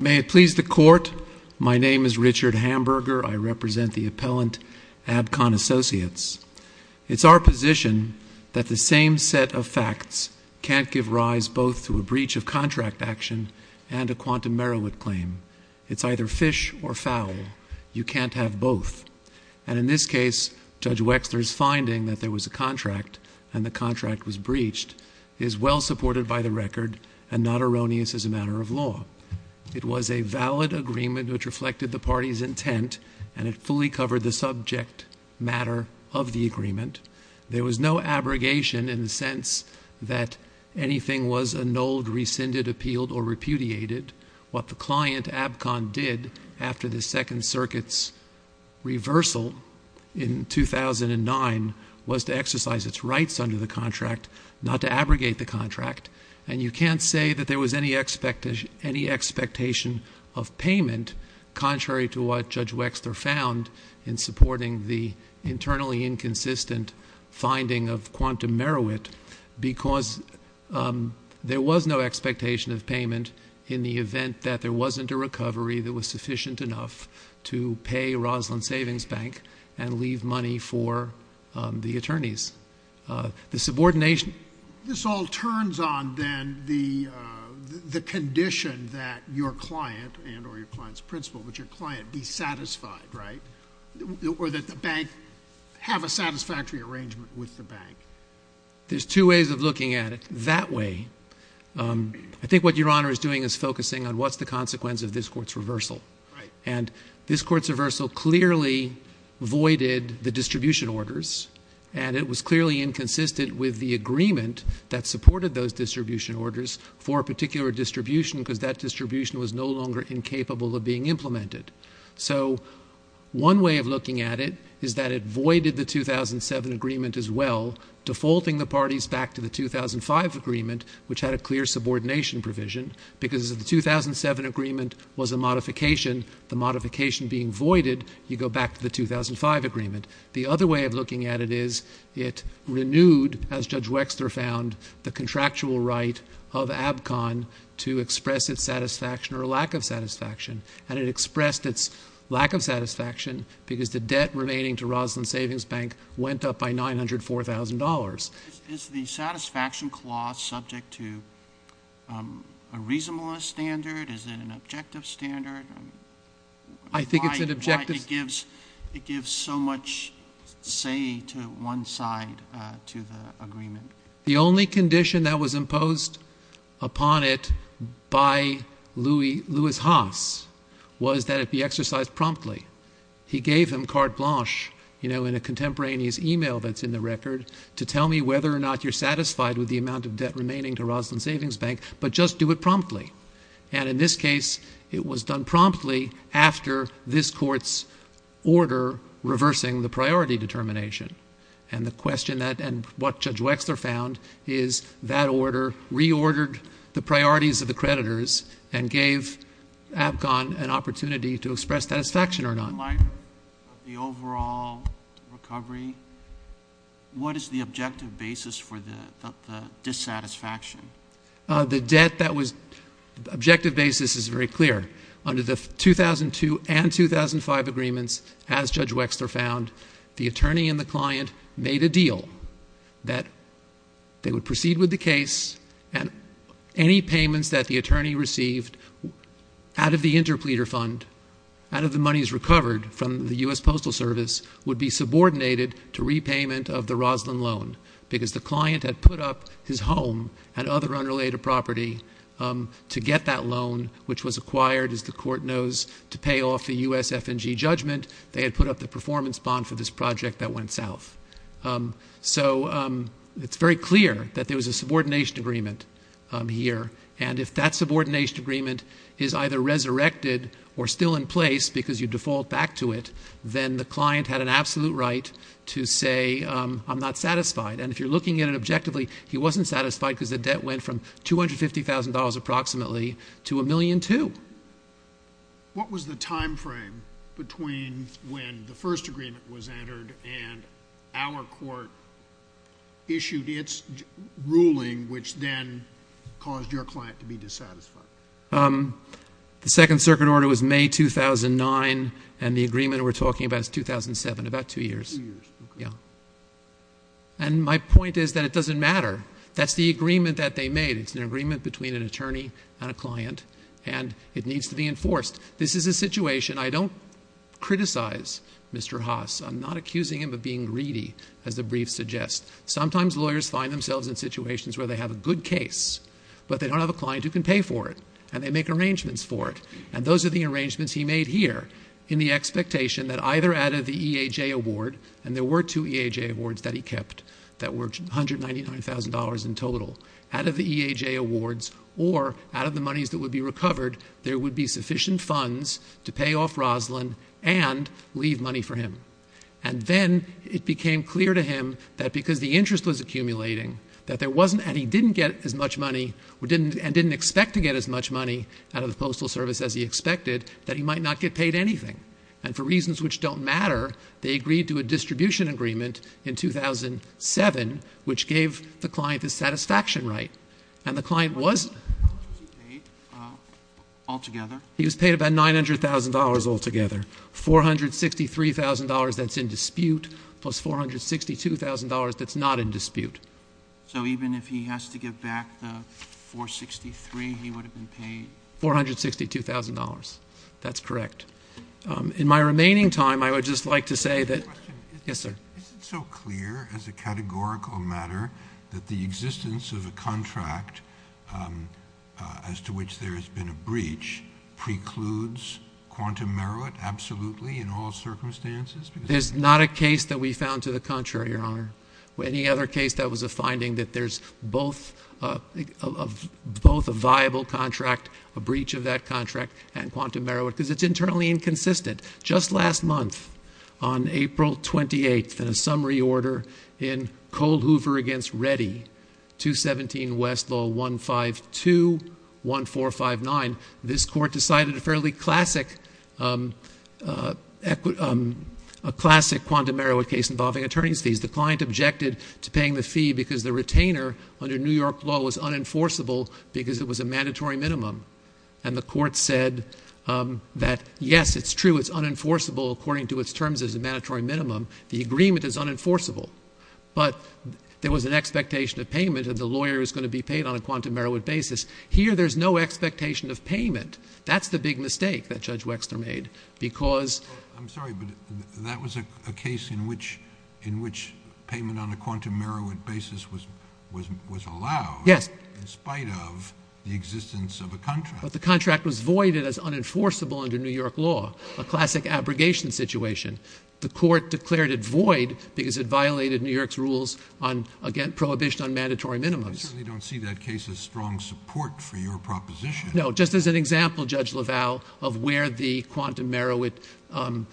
May it please the Court, my name is Richard Hamburger. I represent the appellant, Abcon Associates. It's our position that the same set of facts can't give rise both to a breach of contract action and a quantum Merowith claim. It's either fish or fowl. You can't have both. And in this case, Judge Wexler's finding that there was a contract and the It was a valid agreement which reflected the party's intent and it fully covered the subject matter of the agreement. There was no abrogation in the sense that anything was annulled, rescinded, appealed, or repudiated. What the client, Abcon, did after the Second Circuit's reversal in 2009 was to exercise its rights under the contract, not to abrogate the contract. And you can't say that there was any expectation of payment, contrary to what Judge Wexler found in supporting the internally inconsistent finding of quantum Merowith, because there was no expectation of payment in the event that there wasn't a recovery that was sufficient enough to pay Roslyn Savings Bank and leave money for the attorneys. The subordination This all turns on, then, the condition that your client and or your client's principal, but your client, be satisfied, right? Or that the bank have a satisfactory arrangement with the bank. There's two ways of looking at it. That way, I think what Your Honor is doing is focusing on what's the consequence of this Court's reversal. Right. And this Court's that supported those distribution orders for a particular distribution, because that distribution was no longer incapable of being implemented. So one way of looking at it is that it voided the 2007 agreement as well, defaulting the parties back to the 2005 agreement, which had a clear subordination provision, because if the 2007 agreement was a modification, the modification being voided, you go back to the 2005 agreement. The other way of looking at it is it renewed, as Judge Wexler found, the contractual right of ABCON to express its satisfaction or lack of satisfaction. And it expressed its lack of satisfaction because the debt remaining to Roslyn Savings Bank went up by $904,000. Is the satisfaction clause subject to a reasonableness standard? Is it an objective standard? I think it's an objective standard. It gives so much say to one side to the agreement. The only condition that was imposed upon it by Louis Haas was that it be exercised promptly. He gave him carte blanche, you know, in a contemporaneous email that's in the record, to tell me whether or not you're satisfied with the amount of debt remaining to Roslyn Savings Bank promptly after this Court's order reversing the priority determination. And the question that and what Judge Wexler found is that order reordered the priorities of the creditors and gave ABCON an opportunity to express satisfaction or not. In light of the overall recovery, what is the objective basis for the dissatisfaction? The debt that was—the objective basis is very clear. Under the 2002 and 2005 agreements, as Judge Wexler found, the attorney and the client made a deal that they would proceed with the case and any payments that the attorney received out of the interpleader fund, out of the monies recovered from the U.S. Postal Service, would be subordinated to repayment of the Roslyn loan because the client had put up his home and other unrelated property to get that loan, which was acquired, as the Court knows, to pay off the U.S. F&G judgment. They had put up the performance bond for this project that went south. So it's very clear that there was a subordination agreement here, and if that subordination agreement is either resurrected or still in place because you default back to it, then the client had an absolute right to say, I'm not satisfied. And if you're looking at it objectively, he wasn't satisfied because the debt went from $250,000, approximately, to $1.2 million. What was the time frame between when the first agreement was entered and our Court issued its ruling, which then caused your client to be dissatisfied? The Second Circuit Order was May 2009, and the agreement we're talking about is 2007, about two years. Two years, okay. And my point is that it doesn't matter. That's the agreement that they made. It's an agreement between an attorney and a client, and it needs to be enforced. This is a situation I don't criticize Mr. Haas. I'm not accusing him of being greedy, as the brief suggests. Sometimes lawyers find themselves in situations where they have a good case, but they don't have a client who can pay for it, and they make arrangements for it, and those are the And there were two EHA awards that he kept that were $199,000 in total. Out of the EHA awards, or out of the monies that would be recovered, there would be sufficient funds to pay off Roslyn and leave money for him. And then it became clear to him that because the interest was accumulating, that there wasn't, and he didn't get as much money, and didn't expect to get as much money out of the Postal Service as he expected, that he might not get paid anything. And for reasons which don't matter, they agreed to a distribution agreement in 2007, which gave the client the satisfaction right. And the client was paid about $900,000 altogether, $463,000 that's in dispute, plus $462,000 that's not in dispute. So even if he has to give back the $463,000, he would have been paid $462,000. That's correct. In my remaining time, I would just like to say that Is it so clear as a categorical matter that the existence of a contract as to which there has been a breach precludes quantum merit absolutely in all circumstances? There's not a case that we found to the contrary, Your Honor. Any other case that was a finding that there's both a viable contract, a breach of that contract, and quantum merit, because it's internally inconsistent. Just last month, on April 28th, in a summary order in Cole Hoover against Reddy, 217 West Law 1521459, this court decided a fairly classic quantum merit case involving attorney's fees. The client objected to paying the fee because the retainer under New York law was unenforceable because it was a mandatory minimum. And the court said that, yes, it's true, it's unenforceable according to its terms as a mandatory minimum. The agreement is unenforceable. But there was an expectation of payment, and the lawyer is going to be paid on a quantum merit basis. Here, there's no expectation of payment. That's the big mistake that Judge Wexler made, because I'm sorry, but that was a case in which payment on a quantum merit basis was allowed in spite of the existence of a contract. But the contract was voided as unenforceable under New York law, a classic abrogation situation. The court declared it void because it violated New York's rules on, again, prohibition on mandatory minimums. I certainly don't see that case as strong support for your proposition. No, just as an example, Judge LaValle, of where the quantum merit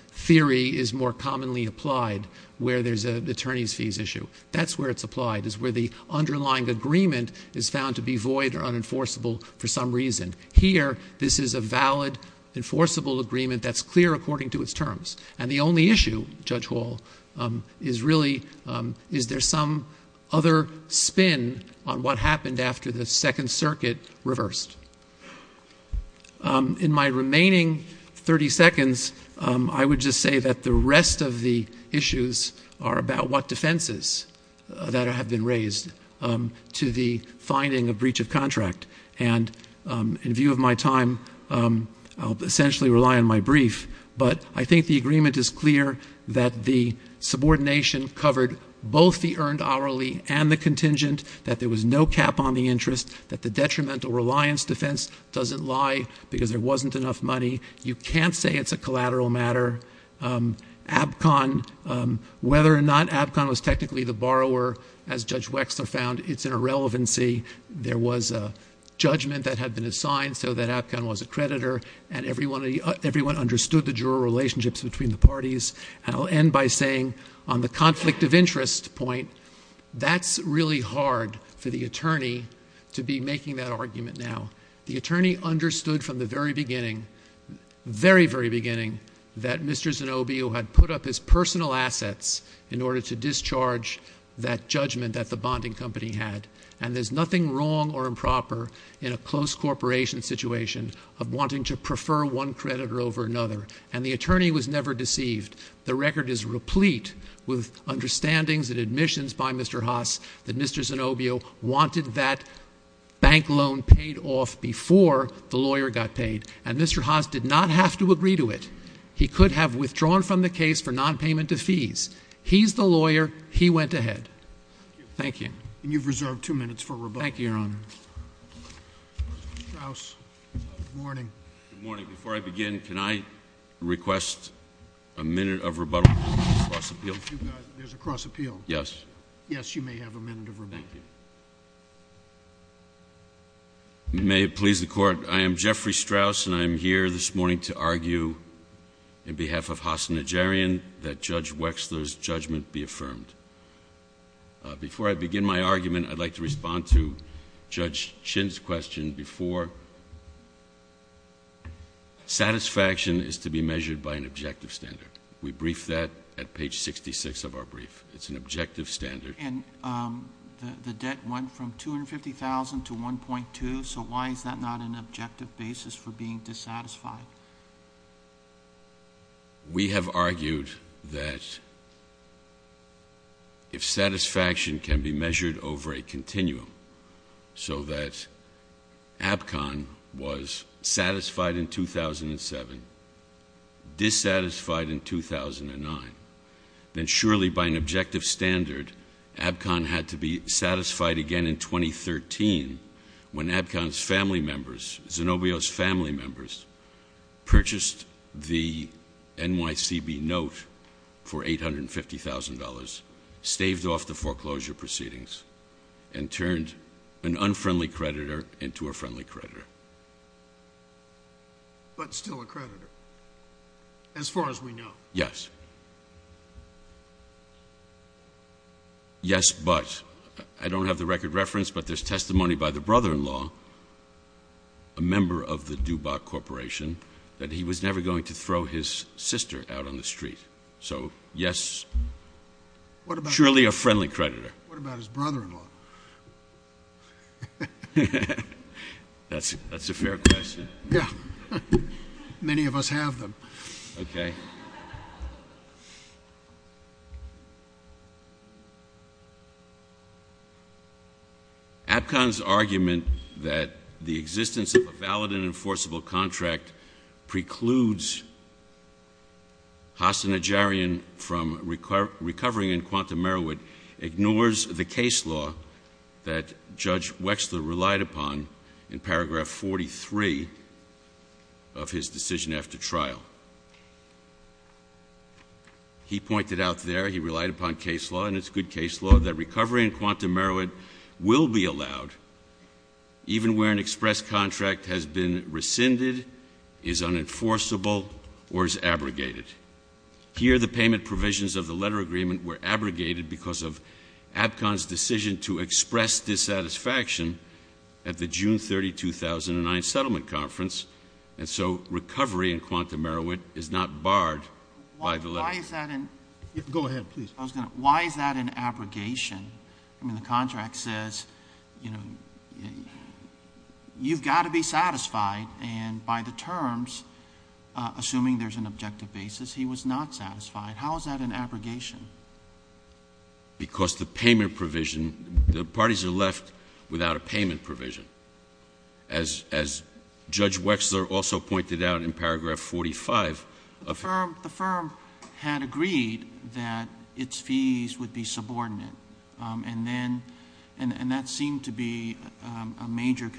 theory is more commonly applied where there's an attorney's fees issue. That's where it's applied. It's where the underlying agreement is found to be void or unenforceable for some reason. Here, this is a valid, enforceable agreement that's clear according to its terms. And the only issue, Judge Hall, is really, is there some other spin on what happened after the Second Circuit reversed? In my remaining 30 seconds, I would just say that the rest of the issues are about what has been raised to the finding of breach of contract. And in view of my time, I'll essentially rely on my brief. But I think the agreement is clear that the subordination covered both the earned hourly and the contingent, that there was no cap on the interest, that the detrimental reliance defense doesn't lie because there wasn't enough money. You can't say it's a collateral matter. APCON, whether or not APCON was technically the borrower, as Judge Wexler found, it's an irrelevancy. There was a judgment that had been assigned so that APCON was a creditor. And everyone understood the dual relationships between the parties. And I'll end by saying, on the conflict of interest point, that's really hard for the attorney to be making that argument now. The attorney understood from the very beginning, very, very beginning, that Mr. Zanobio had put up his personal assets in order to discharge that judgment that the bonding company had. And there's nothing wrong or improper in a close corporation situation of wanting to prefer one creditor over another. And the attorney was never deceived. The record is replete with understandings and admissions by Mr. Haas that Mr. Zanobio wanted that bank loan paid off before the lawyer got paid. And Mr. Haas did not have to agree to it. He could have withdrawn from the case for nonpayment of fees. He's the lawyer. He went ahead. Thank you. And you've reserved two minutes for rebuttal. Thank you, Your Honor. Mr. Strauss. Good morning. Good morning. Before I begin, can I request a minute of rebuttal on this cross-appeal? There's a cross-appeal? Yes. Yes, you may have a minute of rebuttal. Thank you. May it please the Court, I am Jeffrey Strauss, and I am here this morning to argue in behalf of Haas and Najarian that Judge Wexler's judgment be affirmed. Before I begin my argument, I'd like to respond to Judge Chin's question before. Satisfaction is to be measured by an objective standard. We briefed that at page 66 of our brief. It's an objective standard. And the debt went from $250,000 to $1.2,000, so why is that not an objective basis for being dissatisfied? We have argued that if satisfaction can be measured over a continuum so that APCON was satisfied again in 2013 when APCON's family members, Zenobio's family members, purchased the NYCB note for $850,000, staved off the foreclosure proceedings, and turned an unfriendly creditor into a friendly creditor. But still a creditor, as far as we know. Yes. Yes. But. I don't have the record reference, but there's testimony by the brother-in-law, a member of the DuBois Corporation, that he was never going to throw his sister out on the street. So yes, surely a friendly creditor. What about his brother-in-law? That's a fair question. Yeah. Many of us have them. Okay. APCON's argument that the existence of a valid and enforceable contract precludes Hassan Ejarian from recovering in Quantum Merrowood ignores the case law that Judge Wexler relied upon in paragraph 43 of his decision after trial. He pointed out there, he relied upon case law, and it's good case law, that recovery in Quantum Merrowood will be allowed even where an express contract has been rescinded, is unenforceable, or is abrogated. Here the payment provisions of the letter agreement were abrogated because of APCON's decision to express dissatisfaction at the June 30, 2009 settlement conference, and so recovery in Quantum Merrowood is not barred by the letter. Why is that an... Go ahead, please. I was going to... Why is that an abrogation? I mean, the contract says, you know, you've got to be satisfied, and by the terms, assuming there's an objective basis, he was not satisfied. How is that an abrogation? Because the payment provision, the parties are left without a payment provision. As Judge Wexler also pointed out in paragraph 45 of... The firm had agreed that its fees would be subordinate, and that seemed to be a major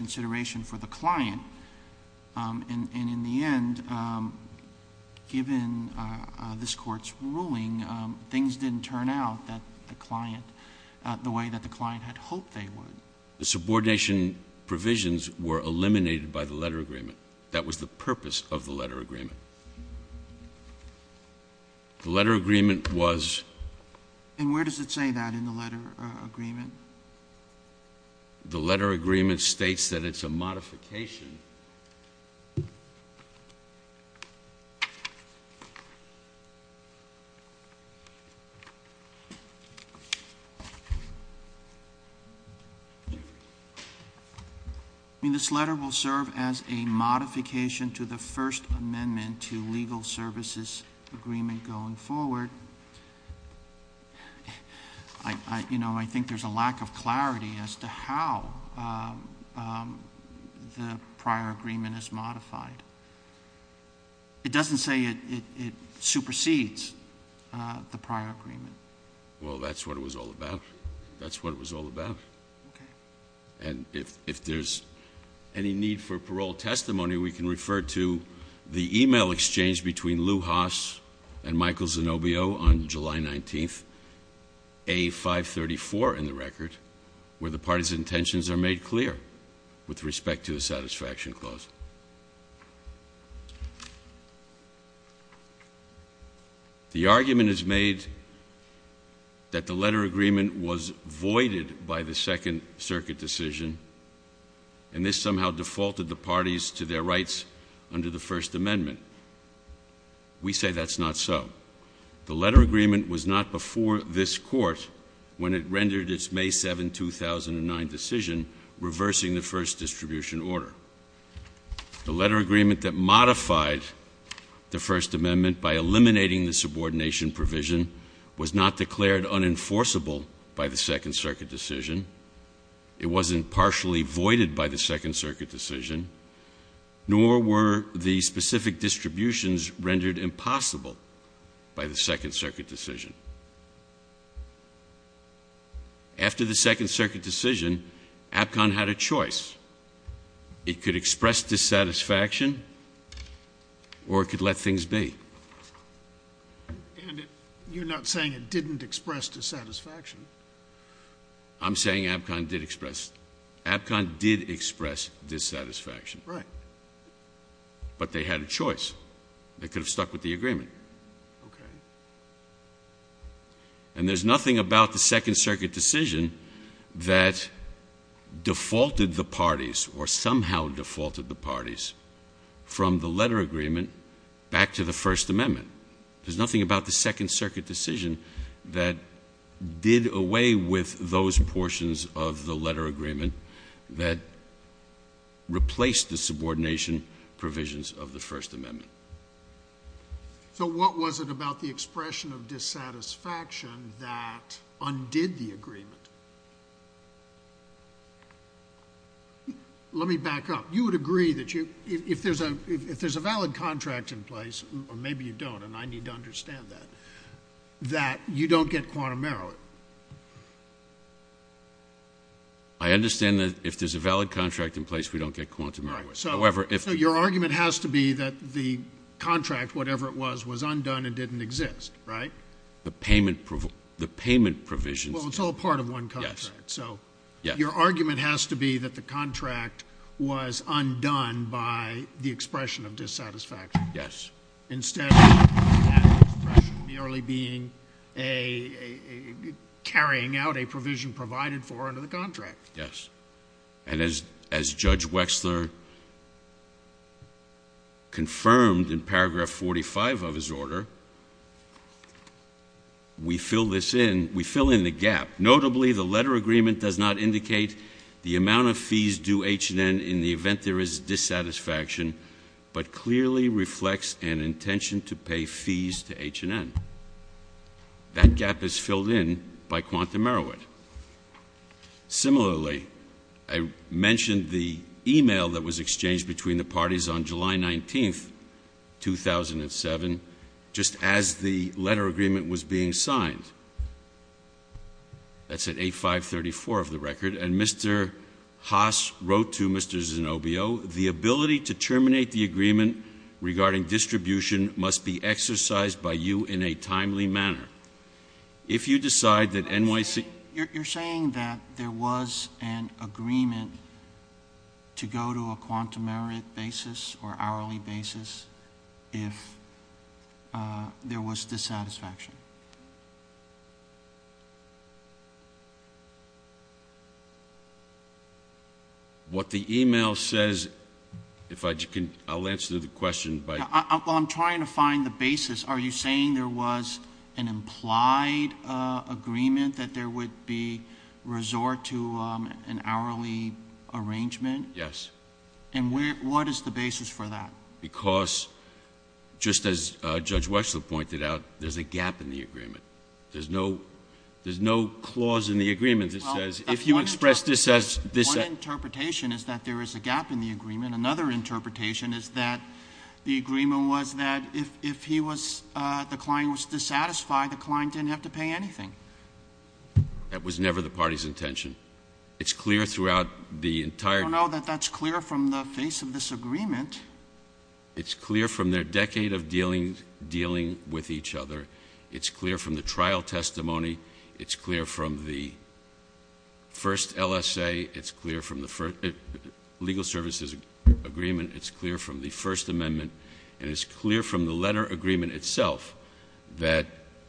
The subordination provisions were eliminated by the letter agreement. That was the purpose of the letter agreement. The letter agreement was... And where does it say that in the letter agreement? The letter agreement states that it's a modification. This letter will serve as a modification to the First Amendment to Legal Services Agreement going forward. I think there's a lack of clarity as to how the prior agreement is modified. It doesn't say it supersedes the prior agreement. Well, that's what it was all about. That's what it was all about. And if there's any need for parole testimony, we can refer to the email exchange between Lew Haas and Michael Zanobbio on July 19th, A534 in the record, where the parties' intentions are made clear with respect to the Satisfaction Clause. The argument is made that the letter agreement was voided by the Second Circuit decision, and this somehow defaulted the parties to their rights under the First Amendment. We say that's not so. The letter agreement was not before this Court when it rendered its May 7, 2009 decision, reversing the First Distribution Order. The letter agreement that modified the First Amendment by eliminating the subordination provision was not declared unenforceable by the Second Circuit decision. It wasn't partially voided by the Second Circuit decision, nor were the specific distributions rendered impossible by the Second Circuit decision. After the Second Circuit decision, APCON had a choice. It could express dissatisfaction, or it could let things be. And you're not saying it didn't express dissatisfaction. I'm saying APCON did express dissatisfaction. But they had a choice. They could have stuck with the agreement. And there's nothing about the Second Circuit decision that defaulted the parties, or somehow defaulted the parties, from the letter agreement back to the First Amendment. There's nothing about the Second Circuit decision that did away with those portions of the letter agreement that replaced the subordination provisions of the First Amendment. So what was it about the expression of dissatisfaction that undid the agreement? Let me back up. You would agree that if there's a valid contract in place, or maybe you don't, and I need to understand that, that you don't get quantum error. I understand that if there's a valid contract in place, we don't get quantum error. So your argument has to be that the contract, whatever it was, was undone and didn't exist, right? The payment provisions. Well, it's all part of one contract. Yes. So your argument has to be that the contract was undone by the expression of dissatisfaction. Yes. Instead of that expression merely being a carrying out a provision provided for under the contract. Yes. And as Judge Wexler confirmed in paragraph 45 of his order, we fill this in, we fill in the gap. Notably, the letter agreement does not indicate the amount of fees due H&N in the event there is dissatisfaction, but clearly reflects an intention to pay fees to H&N. That gap is filled in by quantum error. Similarly, I mentioned the email that was exchanged between the parties on July 19th, 2007, just as the letter agreement was being signed. That's at A534 of the record. And Mr. Haas wrote to Mr. Zanobio, the ability to terminate the agreement regarding distribution must be exercised by you in a timely manner. If you decide that NYC... if there was dissatisfaction. What the email says, if I can, I'll answer the question by... Well, I'm trying to find the basis. Are you saying there was an implied agreement that there would be resort to an hourly arrangement? Yes. And what is the basis for that? Because, just as Judge Wechsler pointed out, there's a gap in the agreement. There's no clause in the agreement that says, if you express this as... One interpretation is that there is a gap in the agreement. Another interpretation is that the agreement was that if the client was dissatisfied, the client didn't have to pay anything. That was never the party's intention. It's clear throughout the entire... I don't know that that's clear from the face of this agreement. It's clear from their decade of dealing with each other. It's clear from the trial testimony. It's clear from the first LSA. It's clear from the legal services agreement. It's clear from the First Amendment. And it's clear from the letter agreement itself that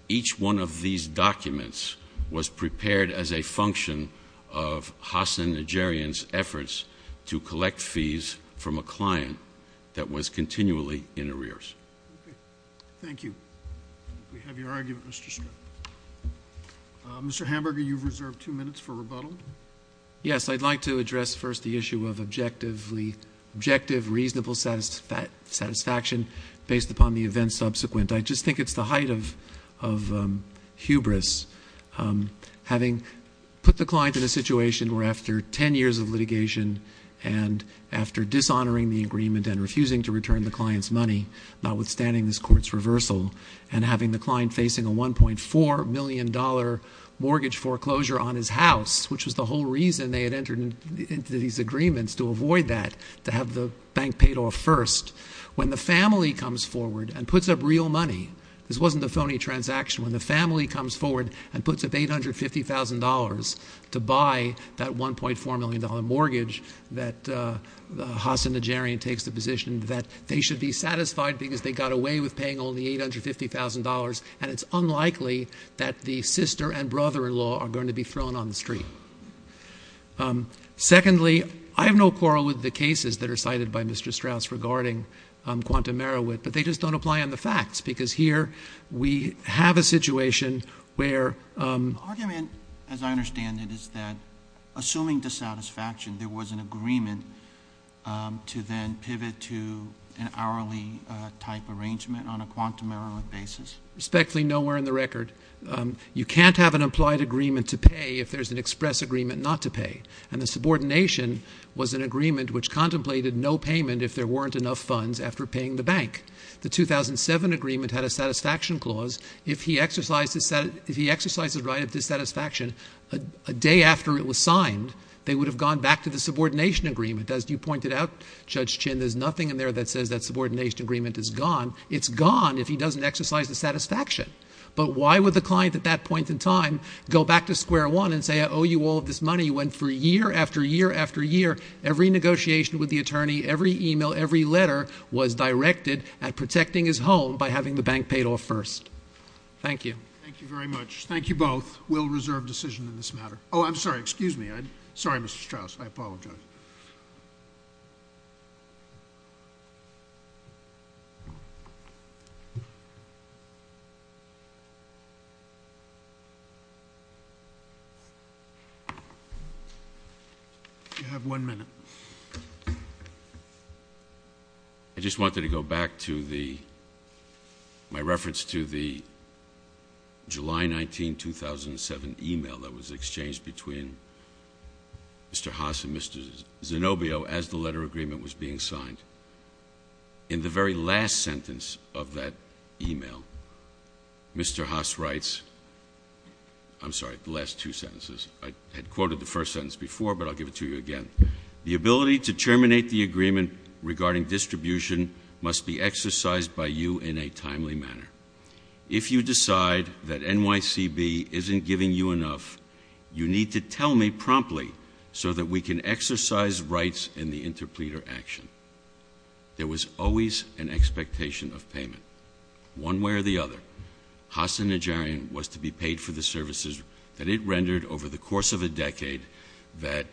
each one of these documents was prepared as a function of Hassan Najarian's efforts to collect fees from a client that was continually in arrears. Okay. Thank you. I think we have your argument, Mr. Stratton. Mr. Hamburger, you've reserved two minutes for rebuttal. Yes. I'd like to address first the issue of objective, reasonable satisfaction based upon the events subsequent. I just think it's the height of hubris. Having put the client in a situation where after 10 years of litigation and after dishonoring the agreement and refusing to return the client's money, notwithstanding this court's reversal, and having the client facing a $1.4 million mortgage foreclosure on his house, which was the whole reason they had entered into these agreements to avoid that, to have the bank paid off first. When the family comes forward and puts up real money, this wasn't a phony transaction, when the family comes forward and puts up $850,000 to buy that $1.4 million mortgage that Hassan Najarian takes the position that they should be satisfied because they got away with paying only $850,000, and it's unlikely that the sister and brother-in-law are going to be thrown on the street. Secondly, I have no quarrel with the cases that are cited by Mr. Strauss regarding quantum Merowith, but they just don't apply on the facts because here we have a situation where – The argument, as I understand it, is that assuming dissatisfaction, there was an agreement to then pivot to an hourly type arrangement on a quantum Merowith basis. Respectfully, nowhere in the record. You can't have an implied agreement to pay if there's an express agreement not to pay, and the subordination was an agreement which contemplated no payment if there weren't enough funds after paying the bank. The 2007 agreement had a satisfaction clause. If he exercised the right of dissatisfaction a day after it was signed, they would have gone back to the subordination agreement. As you pointed out, Judge Chin, there's nothing in there that says that subordination agreement is gone. It's gone if he doesn't exercise the satisfaction. But why would the client at that point in time go back to square one and say I owe you all of this money when for year after year after year, every negotiation with the attorney, every email, every letter was directed at protecting his home by having the bank paid off first? Thank you. Thank you very much. Thank you both. We'll reserve decision in this matter. Oh, I'm sorry. Excuse me. Sorry, Mr. Strauss. I apologize. You have one minute. I just wanted to go back to my reference to the July 19, 2007 email that was exchanged between Mr. Haas and Mr. Zanobbio as the letter agreement was being signed. In the very last sentence of that email, Mr. Haas writes, I'm sorry, the last two sentences. I had quoted the first sentence before, but I'll give it to you again. The ability to terminate the agreement regarding distribution must be exercised by you in a timely manner. If you decide that NYCB isn't giving you enough, you need to tell me promptly so that we can There was always an expectation of payment. One way or the other, Haas and Najarian was to be paid for the services that it rendered over the course of a decade that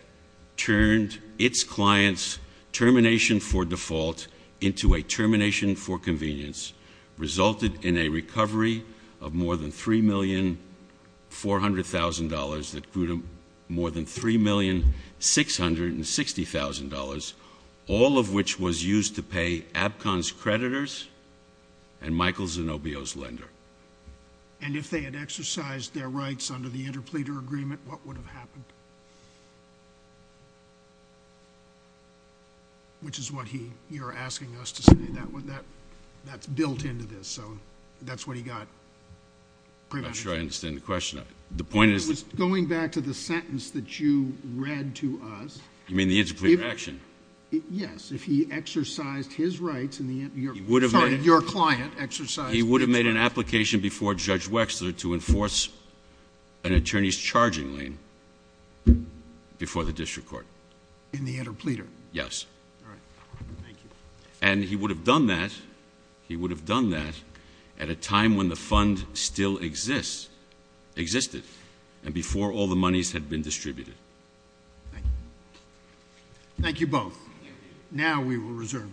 turned its clients' termination for default into a termination for convenience, resulted in a recovery of more than $3,400,000 that grew to more than $3,660,000, all of which was used to pay APCON's creditors and Michael Zanobbio's lender. And if they had exercised their rights under the interpleader agreement, what would have happened? Which is what you're asking us to say. That's built into this. So that's what he got. I'm not sure I understand the question. The point is... Going back to the sentence that you read to us... You mean the interpleader action? Yes. If he exercised his rights in the... He would have made... Sorry, your client exercised... He would have made an application before Judge Wexler to enforce an attorney's charging lien before the district court. In the interpleader? Yes. All right. Thank you. And he would have done that... He would have done that at a time when the fund still existed and before all the monies had been distributed. Thank you. Thank you both. Now we will reserve decision.